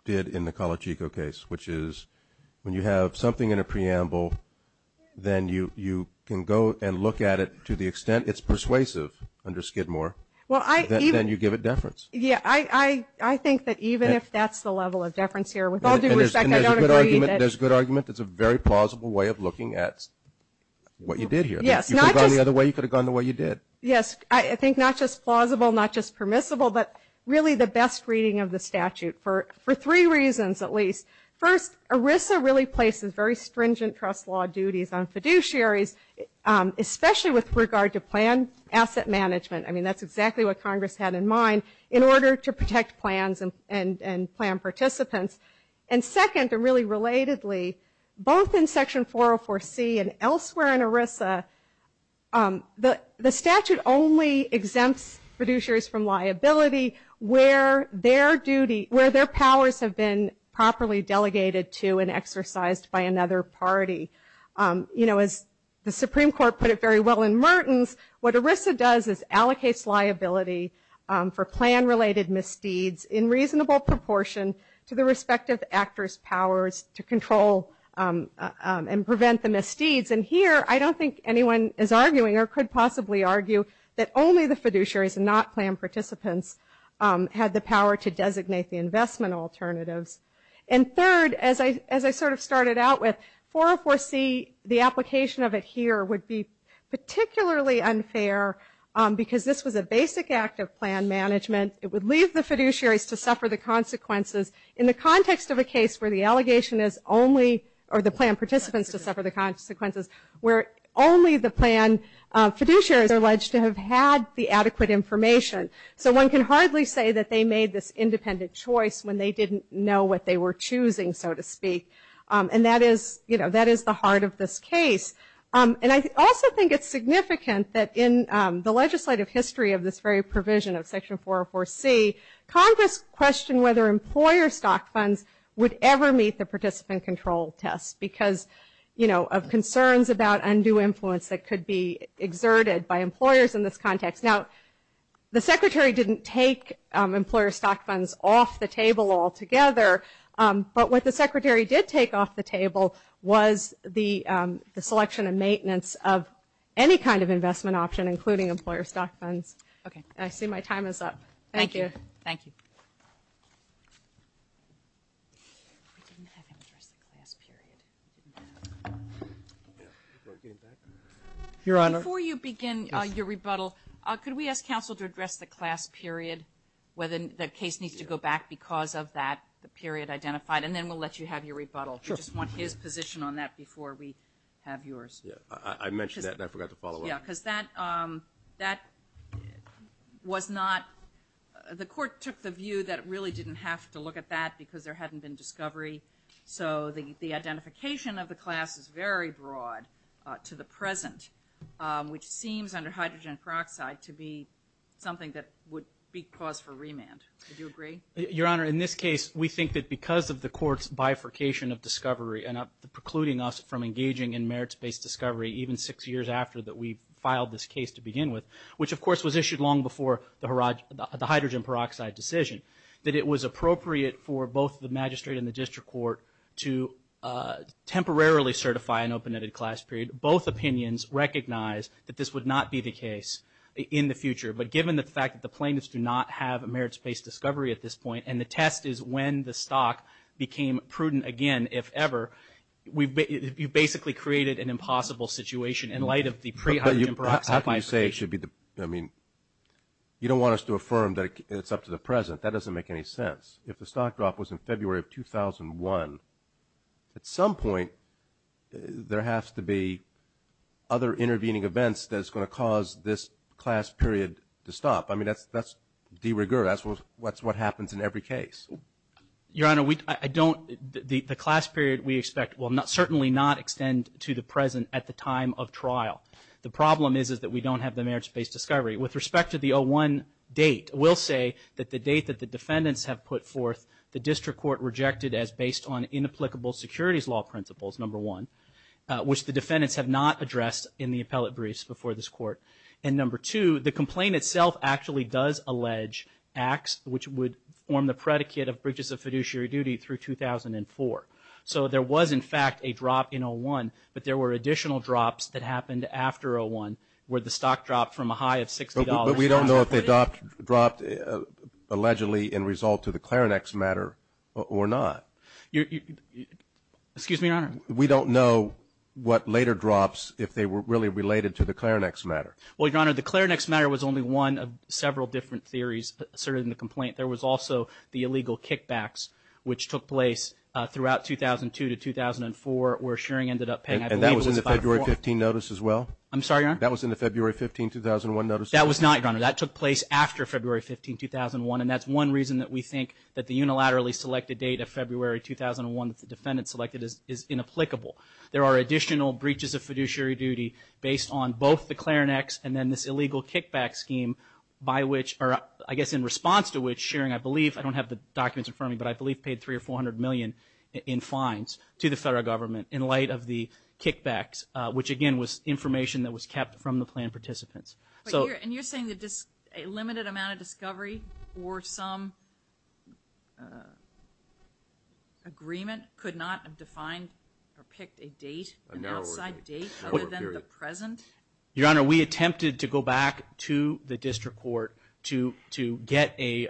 did in the Colachico case, which is when you have something in a preamble, then you can go and look at it to the extent it's persuasive under Skidmore, then you give it deference. Yeah, I think that even if that's the level of deference here, with all due respect, I don't agree. There's a good argument. It's a very plausible way of looking at what you did here. Yes. You could have gone the other way. You could have gone the way you did. Yes, I think not just plausible, not just permissible, but really the best reading of the statute, for three reasons at least. First, ERISA really places very stringent trust law duties on fiduciaries, especially with regard to plan asset management. I mean, that's exactly what Congress had in mind in order to protect plans and plan participants. And second, and really relatedly, both in Section 404C and elsewhere in ERISA, the statute only exempts fiduciaries from liability where their duty, where their powers have been properly delegated to and exercised by another party. You know, as the Supreme Court put it very well in Mertens, what ERISA does is allocates liability for plan-related misdeeds in reasonable proportion to the respective actors' powers to control and prevent the misdeeds. And here, I don't think anyone is arguing or could possibly argue that only the fiduciaries and not plan participants had the power to designate the investment alternatives. And third, as I sort of started out with, 404C, the application of it here would be particularly unfair because this was a basic act of plan management. It would leave the fiduciaries to suffer the consequences in the context of a case where the allegation is only, or the plan participants to suffer the consequences, where only the plan fiduciaries are alleged to have had the adequate information. So one can hardly say that they made this independent choice when they didn't know what they were choosing, so to speak. And that is, you know, that is the heart of this case. And I also think it's significant that in the legislative history of this very provision of Section 404C, Congress questioned whether employer stock funds would ever meet the participant control test because, you know, of concerns about undue influence that could be exerted by employers in this context. Now, the Secretary didn't take employer stock funds off the table altogether, but what the Secretary did take off the table was the selection and maintenance of any kind of investment option, including employer stock funds. I see my time is up. Thank you. Thank you. Your Honor. Before you begin your rebuttal, could we ask counsel to address the class period, whether the case needs to go back because of that period identified, and then we'll let you have your rebuttal. We just want his position on that before we have yours. I mentioned that and I forgot to follow up. Yeah, because that was not the court took the view that it really didn't have to look at that because there hadn't been discovery. So the identification of the class is very broad to the present, which seems under hydrogen peroxide to be something that would be cause for remand. Would you agree? Your Honor, in this case, we think that because of the court's bifurcation of discovery and precluding us from engaging in merits-based discovery even six years after that we filed this case to begin with, which of course was issued long before the hydrogen peroxide decision, that it was appropriate for both the magistrate and the district court to temporarily certify an open-ended class period. Both opinions recognize that this would not be the case in the future, but given the fact that the plaintiffs do not have a merits-based discovery at this point and the test is when the stock became prudent again, if ever, you've basically created an impossible situation in light of the pre-hydrogen peroxide bifurcation. How can you say it should be the – I mean, you don't want us to affirm that it's up to the present. That doesn't make any sense. If the stock drop was in February of 2001, at some point there has to be other intervening events that's going to cause this class period to stop. I mean, that's de rigueur. That's what happens in every case. Your Honor, I don't – the class period we expect will certainly not extend to the present at the time of trial. The problem is that we don't have the merits-based discovery. With respect to the 01 date, we'll say that the date that the defendants have put forth, the district court rejected as based on inapplicable securities law principles, number one, which the defendants have not addressed in the appellate briefs before this court. And number two, the complaint itself actually does allege acts which would form the predicate of breaches of fiduciary duty through 2004. So there was, in fact, a drop in 01, but there were additional drops that happened after 01 where the stock dropped from a high of $60. But we don't know if the drop allegedly in result to the Clarinx matter or not. Excuse me, Your Honor. We don't know what later drops, if they were really related to the Clarinx matter. Well, Your Honor, the Clarinx matter was only one of several different theories asserted in the complaint. There was also the illegal kickbacks, which took place throughout 2002 to 2004, where Shearing ended up paying, I believe, it was about a four. And that was in the February 15 notice as well? I'm sorry, Your Honor? That was in the February 15, 2001 notice? That was not, Your Honor. That took place after February 15, 2001. And that's one reason that we think that the unilaterally selected date of February 2001 that the defendant selected is inapplicable. There are additional breaches of fiduciary duty based on both the Clarinx and then this illegal kickback scheme by which, or I guess in response to which, Shearing, I believe, I don't have the documents in front of me, but I believe paid $300 or $400 million in fines to the federal government in light of the kickbacks, which, again, was information that was kept from the plan participants. And you're saying a limited amount of discovery or some agreement could not have defined or picked a date, an outside date other than the present? Your Honor, we attempted to go back to the district court to get a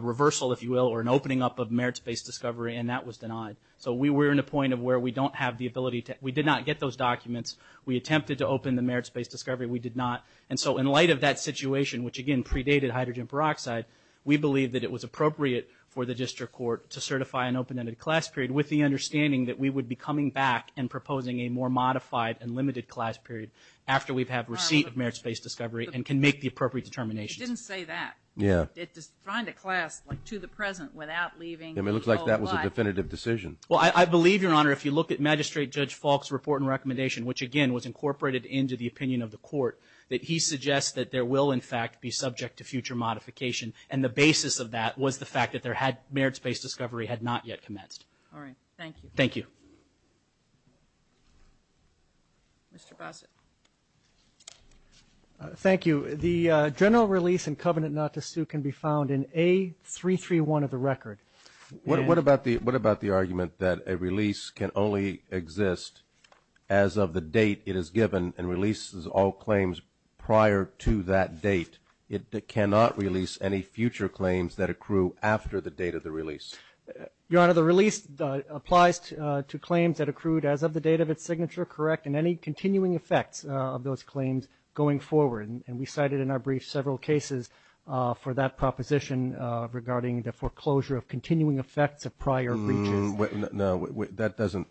reversal, if you will, or an opening up of merits-based discovery, and that was denied. So we were in a point of where we did not get those documents. We attempted to open the merits-based discovery. We did not. And so in light of that situation, which, again, predated hydrogen peroxide, we believe that it was appropriate for the district court to certify an open-ended class period, with the understanding that we would be coming back and proposing a more modified and limited class period after we've had receipt of merits-based discovery and can make the appropriate determinations. It didn't say that. Yeah. It defined a class, like to the present, without leaving. It looks like that was a definitive decision. Well, I believe, Your Honor, if you look at Magistrate Judge Falk's report and recommendation, which, again, was incorporated into the opinion of the court, that he suggests that there will, in fact, be subject to future modification. And the basis of that was the fact that there had merits-based discovery had not yet commenced. All right. Thank you. Thank you. Mr. Bossert. Thank you. The general release in covenant not to sue can be found in A331 of the record. What about the argument that a release can only exist as of the date it is given and releases all claims prior to that date? It cannot release any future claims that accrue after the date of the release. Your Honor, the release applies to claims that accrued as of the date of its signature, correct, and any continuing effects of those claims going forward. And we cited in our brief several cases for that proposition regarding the foreclosure of continuing effects of prior breaches. No, that doesn't.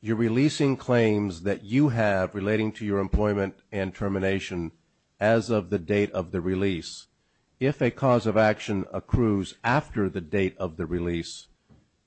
You're releasing claims that you have relating to your employment and termination as of the date of the release. If a cause of action accrues after the date of the release,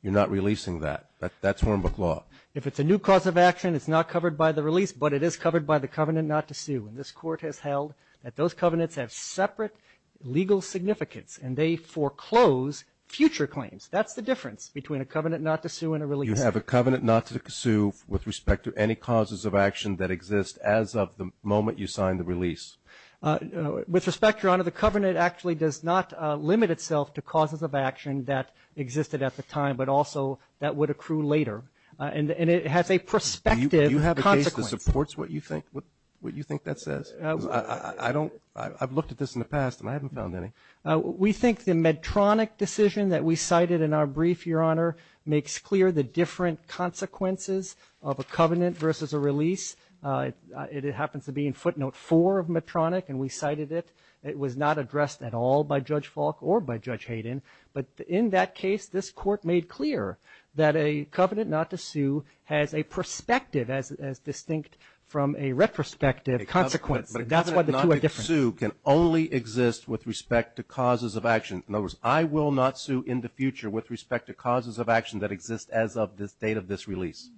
you're not releasing that. That's Hornbook law. If it's a new cause of action, it's not covered by the release, but it is covered by the covenant not to sue. And this Court has held that those covenants have separate legal significance and they foreclose future claims. That's the difference between a covenant not to sue and a release. You have a covenant not to sue with respect to any causes of action that exist as of the moment you sign the release. With respect, Your Honor, the covenant actually does not limit itself to causes of action that existed at the time, but also that would accrue later. And it has a prospective consequence. It supports what you think that says? I've looked at this in the past, and I haven't found any. We think the Medtronic decision that we cited in our brief, Your Honor, makes clear the different consequences of a covenant versus a release. It happens to be in footnote 4 of Medtronic, and we cited it. It was not addressed at all by Judge Falk or by Judge Hayden. But in that case, this Court made clear that a covenant not to sue has a perspective as distinct from a retrospective consequence, and that's why the two are different. But a covenant not to sue can only exist with respect to causes of action. In other words, I will not sue in the future with respect to causes of action that exist as of the date of this release.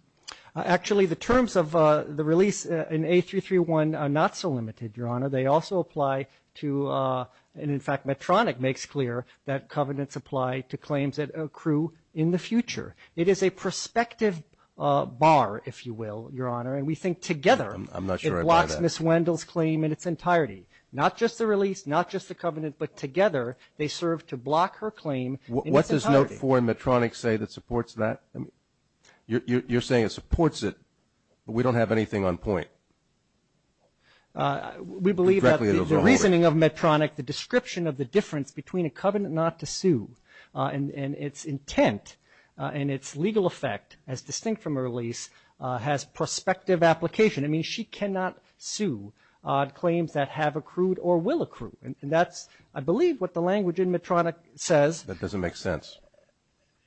Actually, the terms of the release in A331 are not so limited, Your Honor. They also apply to, and in fact Medtronic makes clear, that covenants apply to claims that accrue in the future. It is a prospective bar, if you will, Your Honor, and we think together. I'm not sure I buy that. It blocks Ms. Wendell's claim in its entirety. Not just the release, not just the covenant, but together they serve to block her claim in its entirety. What does note 4 in Medtronic say that supports that? You're saying it supports it, but we don't have anything on point. We believe that the reasoning of Medtronic, like the description of the difference between a covenant not to sue and its intent and its legal effect, as distinct from a release, has prospective application. It means she cannot sue claims that have accrued or will accrue. And that's, I believe, what the language in Medtronic says. That doesn't make sense.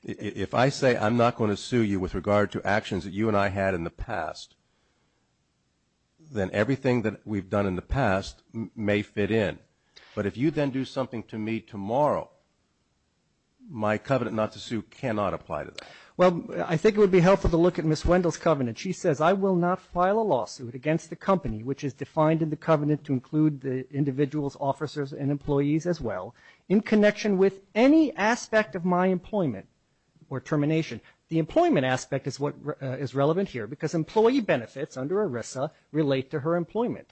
If I say I'm not going to sue you with regard to actions that you and I had in the past, then everything that we've done in the past may fit in. But if you then do something to me tomorrow, my covenant not to sue cannot apply to that. Well, I think it would be helpful to look at Ms. Wendell's covenant. She says, I will not file a lawsuit against the company, which is defined in the covenant to include the individuals, officers, and employees as well, in connection with any aspect of my employment or termination. The employment aspect is what is relevant here because employee benefits under ERISA relate to her employment.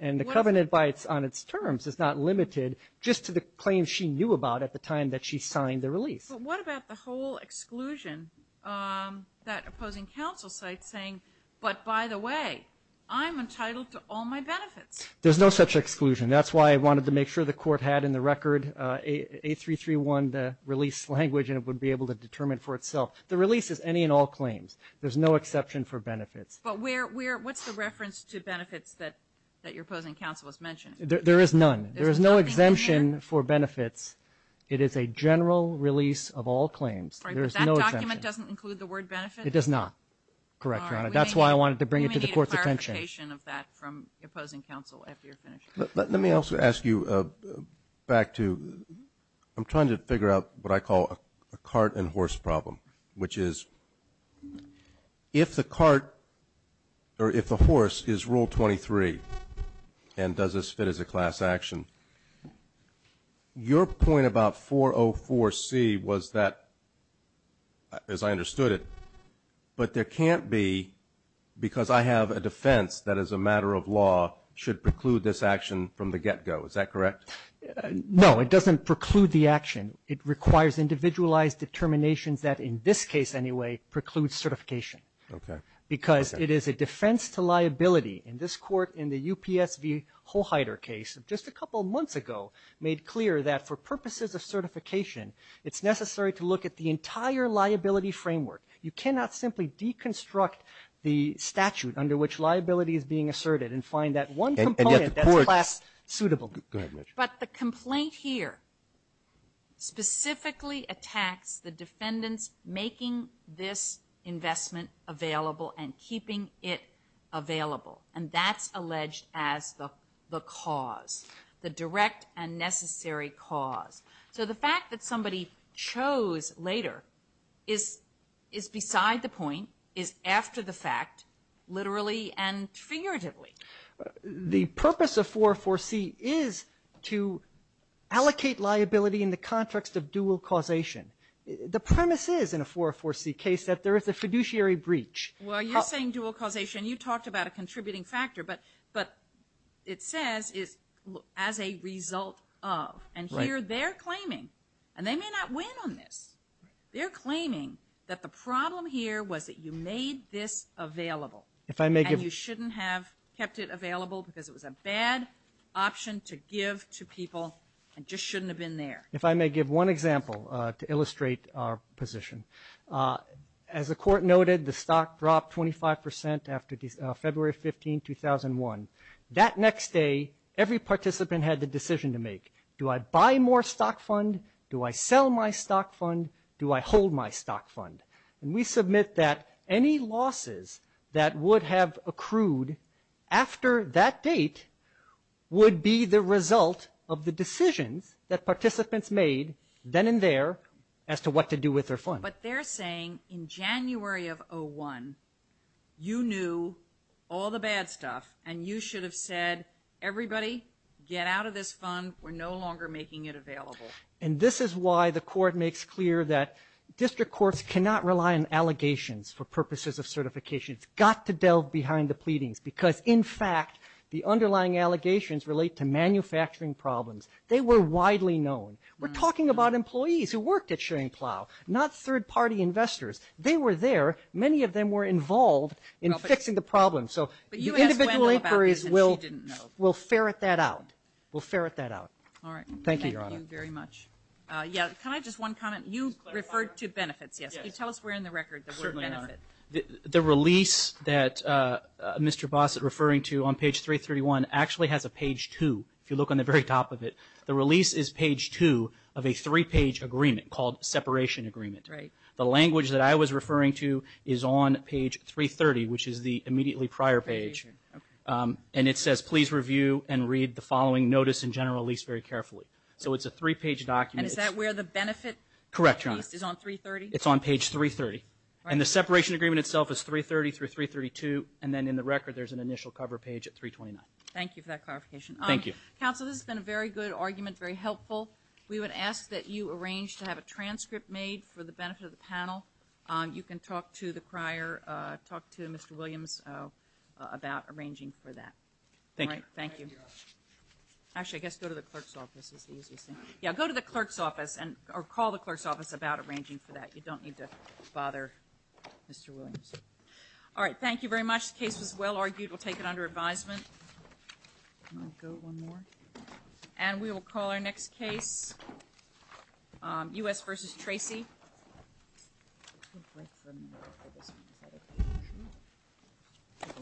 And the covenant by its own terms is not limited just to the claims she knew about at the time that she signed the release. But what about the whole exclusion, that opposing counsel site saying, but by the way, I'm entitled to all my benefits. There's no such exclusion. That's why I wanted to make sure the court had in the record A331, the release language, and it would be able to determine for itself. The release is any and all claims. There's no exception for benefits. But what's the reference to benefits that your opposing counsel has mentioned? There is none. There is no exemption for benefits. It is a general release of all claims. But that document doesn't include the word benefits? It does not. Correct, Your Honor. That's why I wanted to bring it to the court's attention. We may need a clarification of that from opposing counsel after you're finished. Let me also ask you back to, I'm trying to figure out what I call a cart and horse problem, which is if the cart or if the horse is Rule 23 and does this fit as a class action, your point about 404C was that, as I understood it, but there can't be because I have a defense that as a matter of law should preclude this action from the get-go. Is that correct? No. It doesn't preclude the action. It requires individualized determinations that, in this case anyway, preclude certification. Okay. Because it is a defense to liability. In this Court, in the UPS v. Hoheider case, just a couple of months ago made clear that for purposes of certification, it's necessary to look at the entire liability framework. You cannot simply deconstruct the statute under which liability is being asserted and find that one component that's class-suitable. Go ahead, Mitch. But the complaint here specifically attacks the defendant's making this investment available and keeping it available, and that's alleged as the cause, the direct and necessary cause. So the fact that somebody chose later is beside the point, is after the fact, literally and figuratively. The purpose of 404C is to allocate liability in the context of dual causation. The premise is in a 404C case that there is a fiduciary breach. Well, you're saying dual causation. You talked about a contributing factor, but it says as a result of. And here they're claiming, and they may not win on this, they're claiming that the problem here was that you made this available and you kept it available because it was a bad option to give to people and just shouldn't have been there. If I may give one example to illustrate our position. As the Court noted, the stock dropped 25 percent after February 15, 2001. That next day, every participant had the decision to make. Do I buy more stock fund? Do I sell my stock fund? Do I hold my stock fund? And we submit that any losses that would have accrued after that date would be the result of the decisions that participants made then and there as to what to do with their fund. But they're saying in January of 2001, you knew all the bad stuff, and you should have said, everybody, get out of this fund. We're no longer making it available. And this is why the Court makes clear that district courts cannot rely on allegations for purposes of certification. It's got to delve behind the pleadings because, in fact, the underlying allegations relate to manufacturing problems. They were widely known. We're talking about employees who worked at Schoenplau, not third-party investors. They were there. Many of them were involved in fixing the problem. So individual inquiries will ferret that out. We'll ferret that out. Thank you, Your Honor. Thank you very much. Yeah, can I have just one comment? You referred to benefits, yes. Can you tell us where in the record there were benefits? The release that Mr. Bossert is referring to on page 331 actually has a page 2, if you look on the very top of it. The release is page 2 of a three-page agreement called separation agreement. Right. The language that I was referring to is on page 330, which is the immediately prior page. Okay. And it says, please review and read the following notice and general lease very carefully. So it's a three-page document. And is that where the benefit? Correct, Your Honor. Is on 330? It's on page 330. And the separation agreement itself is 330 through 332, and then in the record there's an initial cover page at 329. Thank you for that clarification. Thank you. Counsel, this has been a very good argument, very helpful. We would ask that you arrange to have a transcript made for the benefit of the panel. You can talk to the crier, talk to Mr. Williams about arranging for that. Thank you. Thank you. Actually, I guess go to the clerk's office is the easiest thing. Yeah, go to the clerk's office or call the clerk's office about arranging for that. You don't need to bother Mr. Williams. All right. Thank you very much. The case was well argued. We'll take it under advisement. Can I go one more? And we will call our next case, U.S. v. Tracy.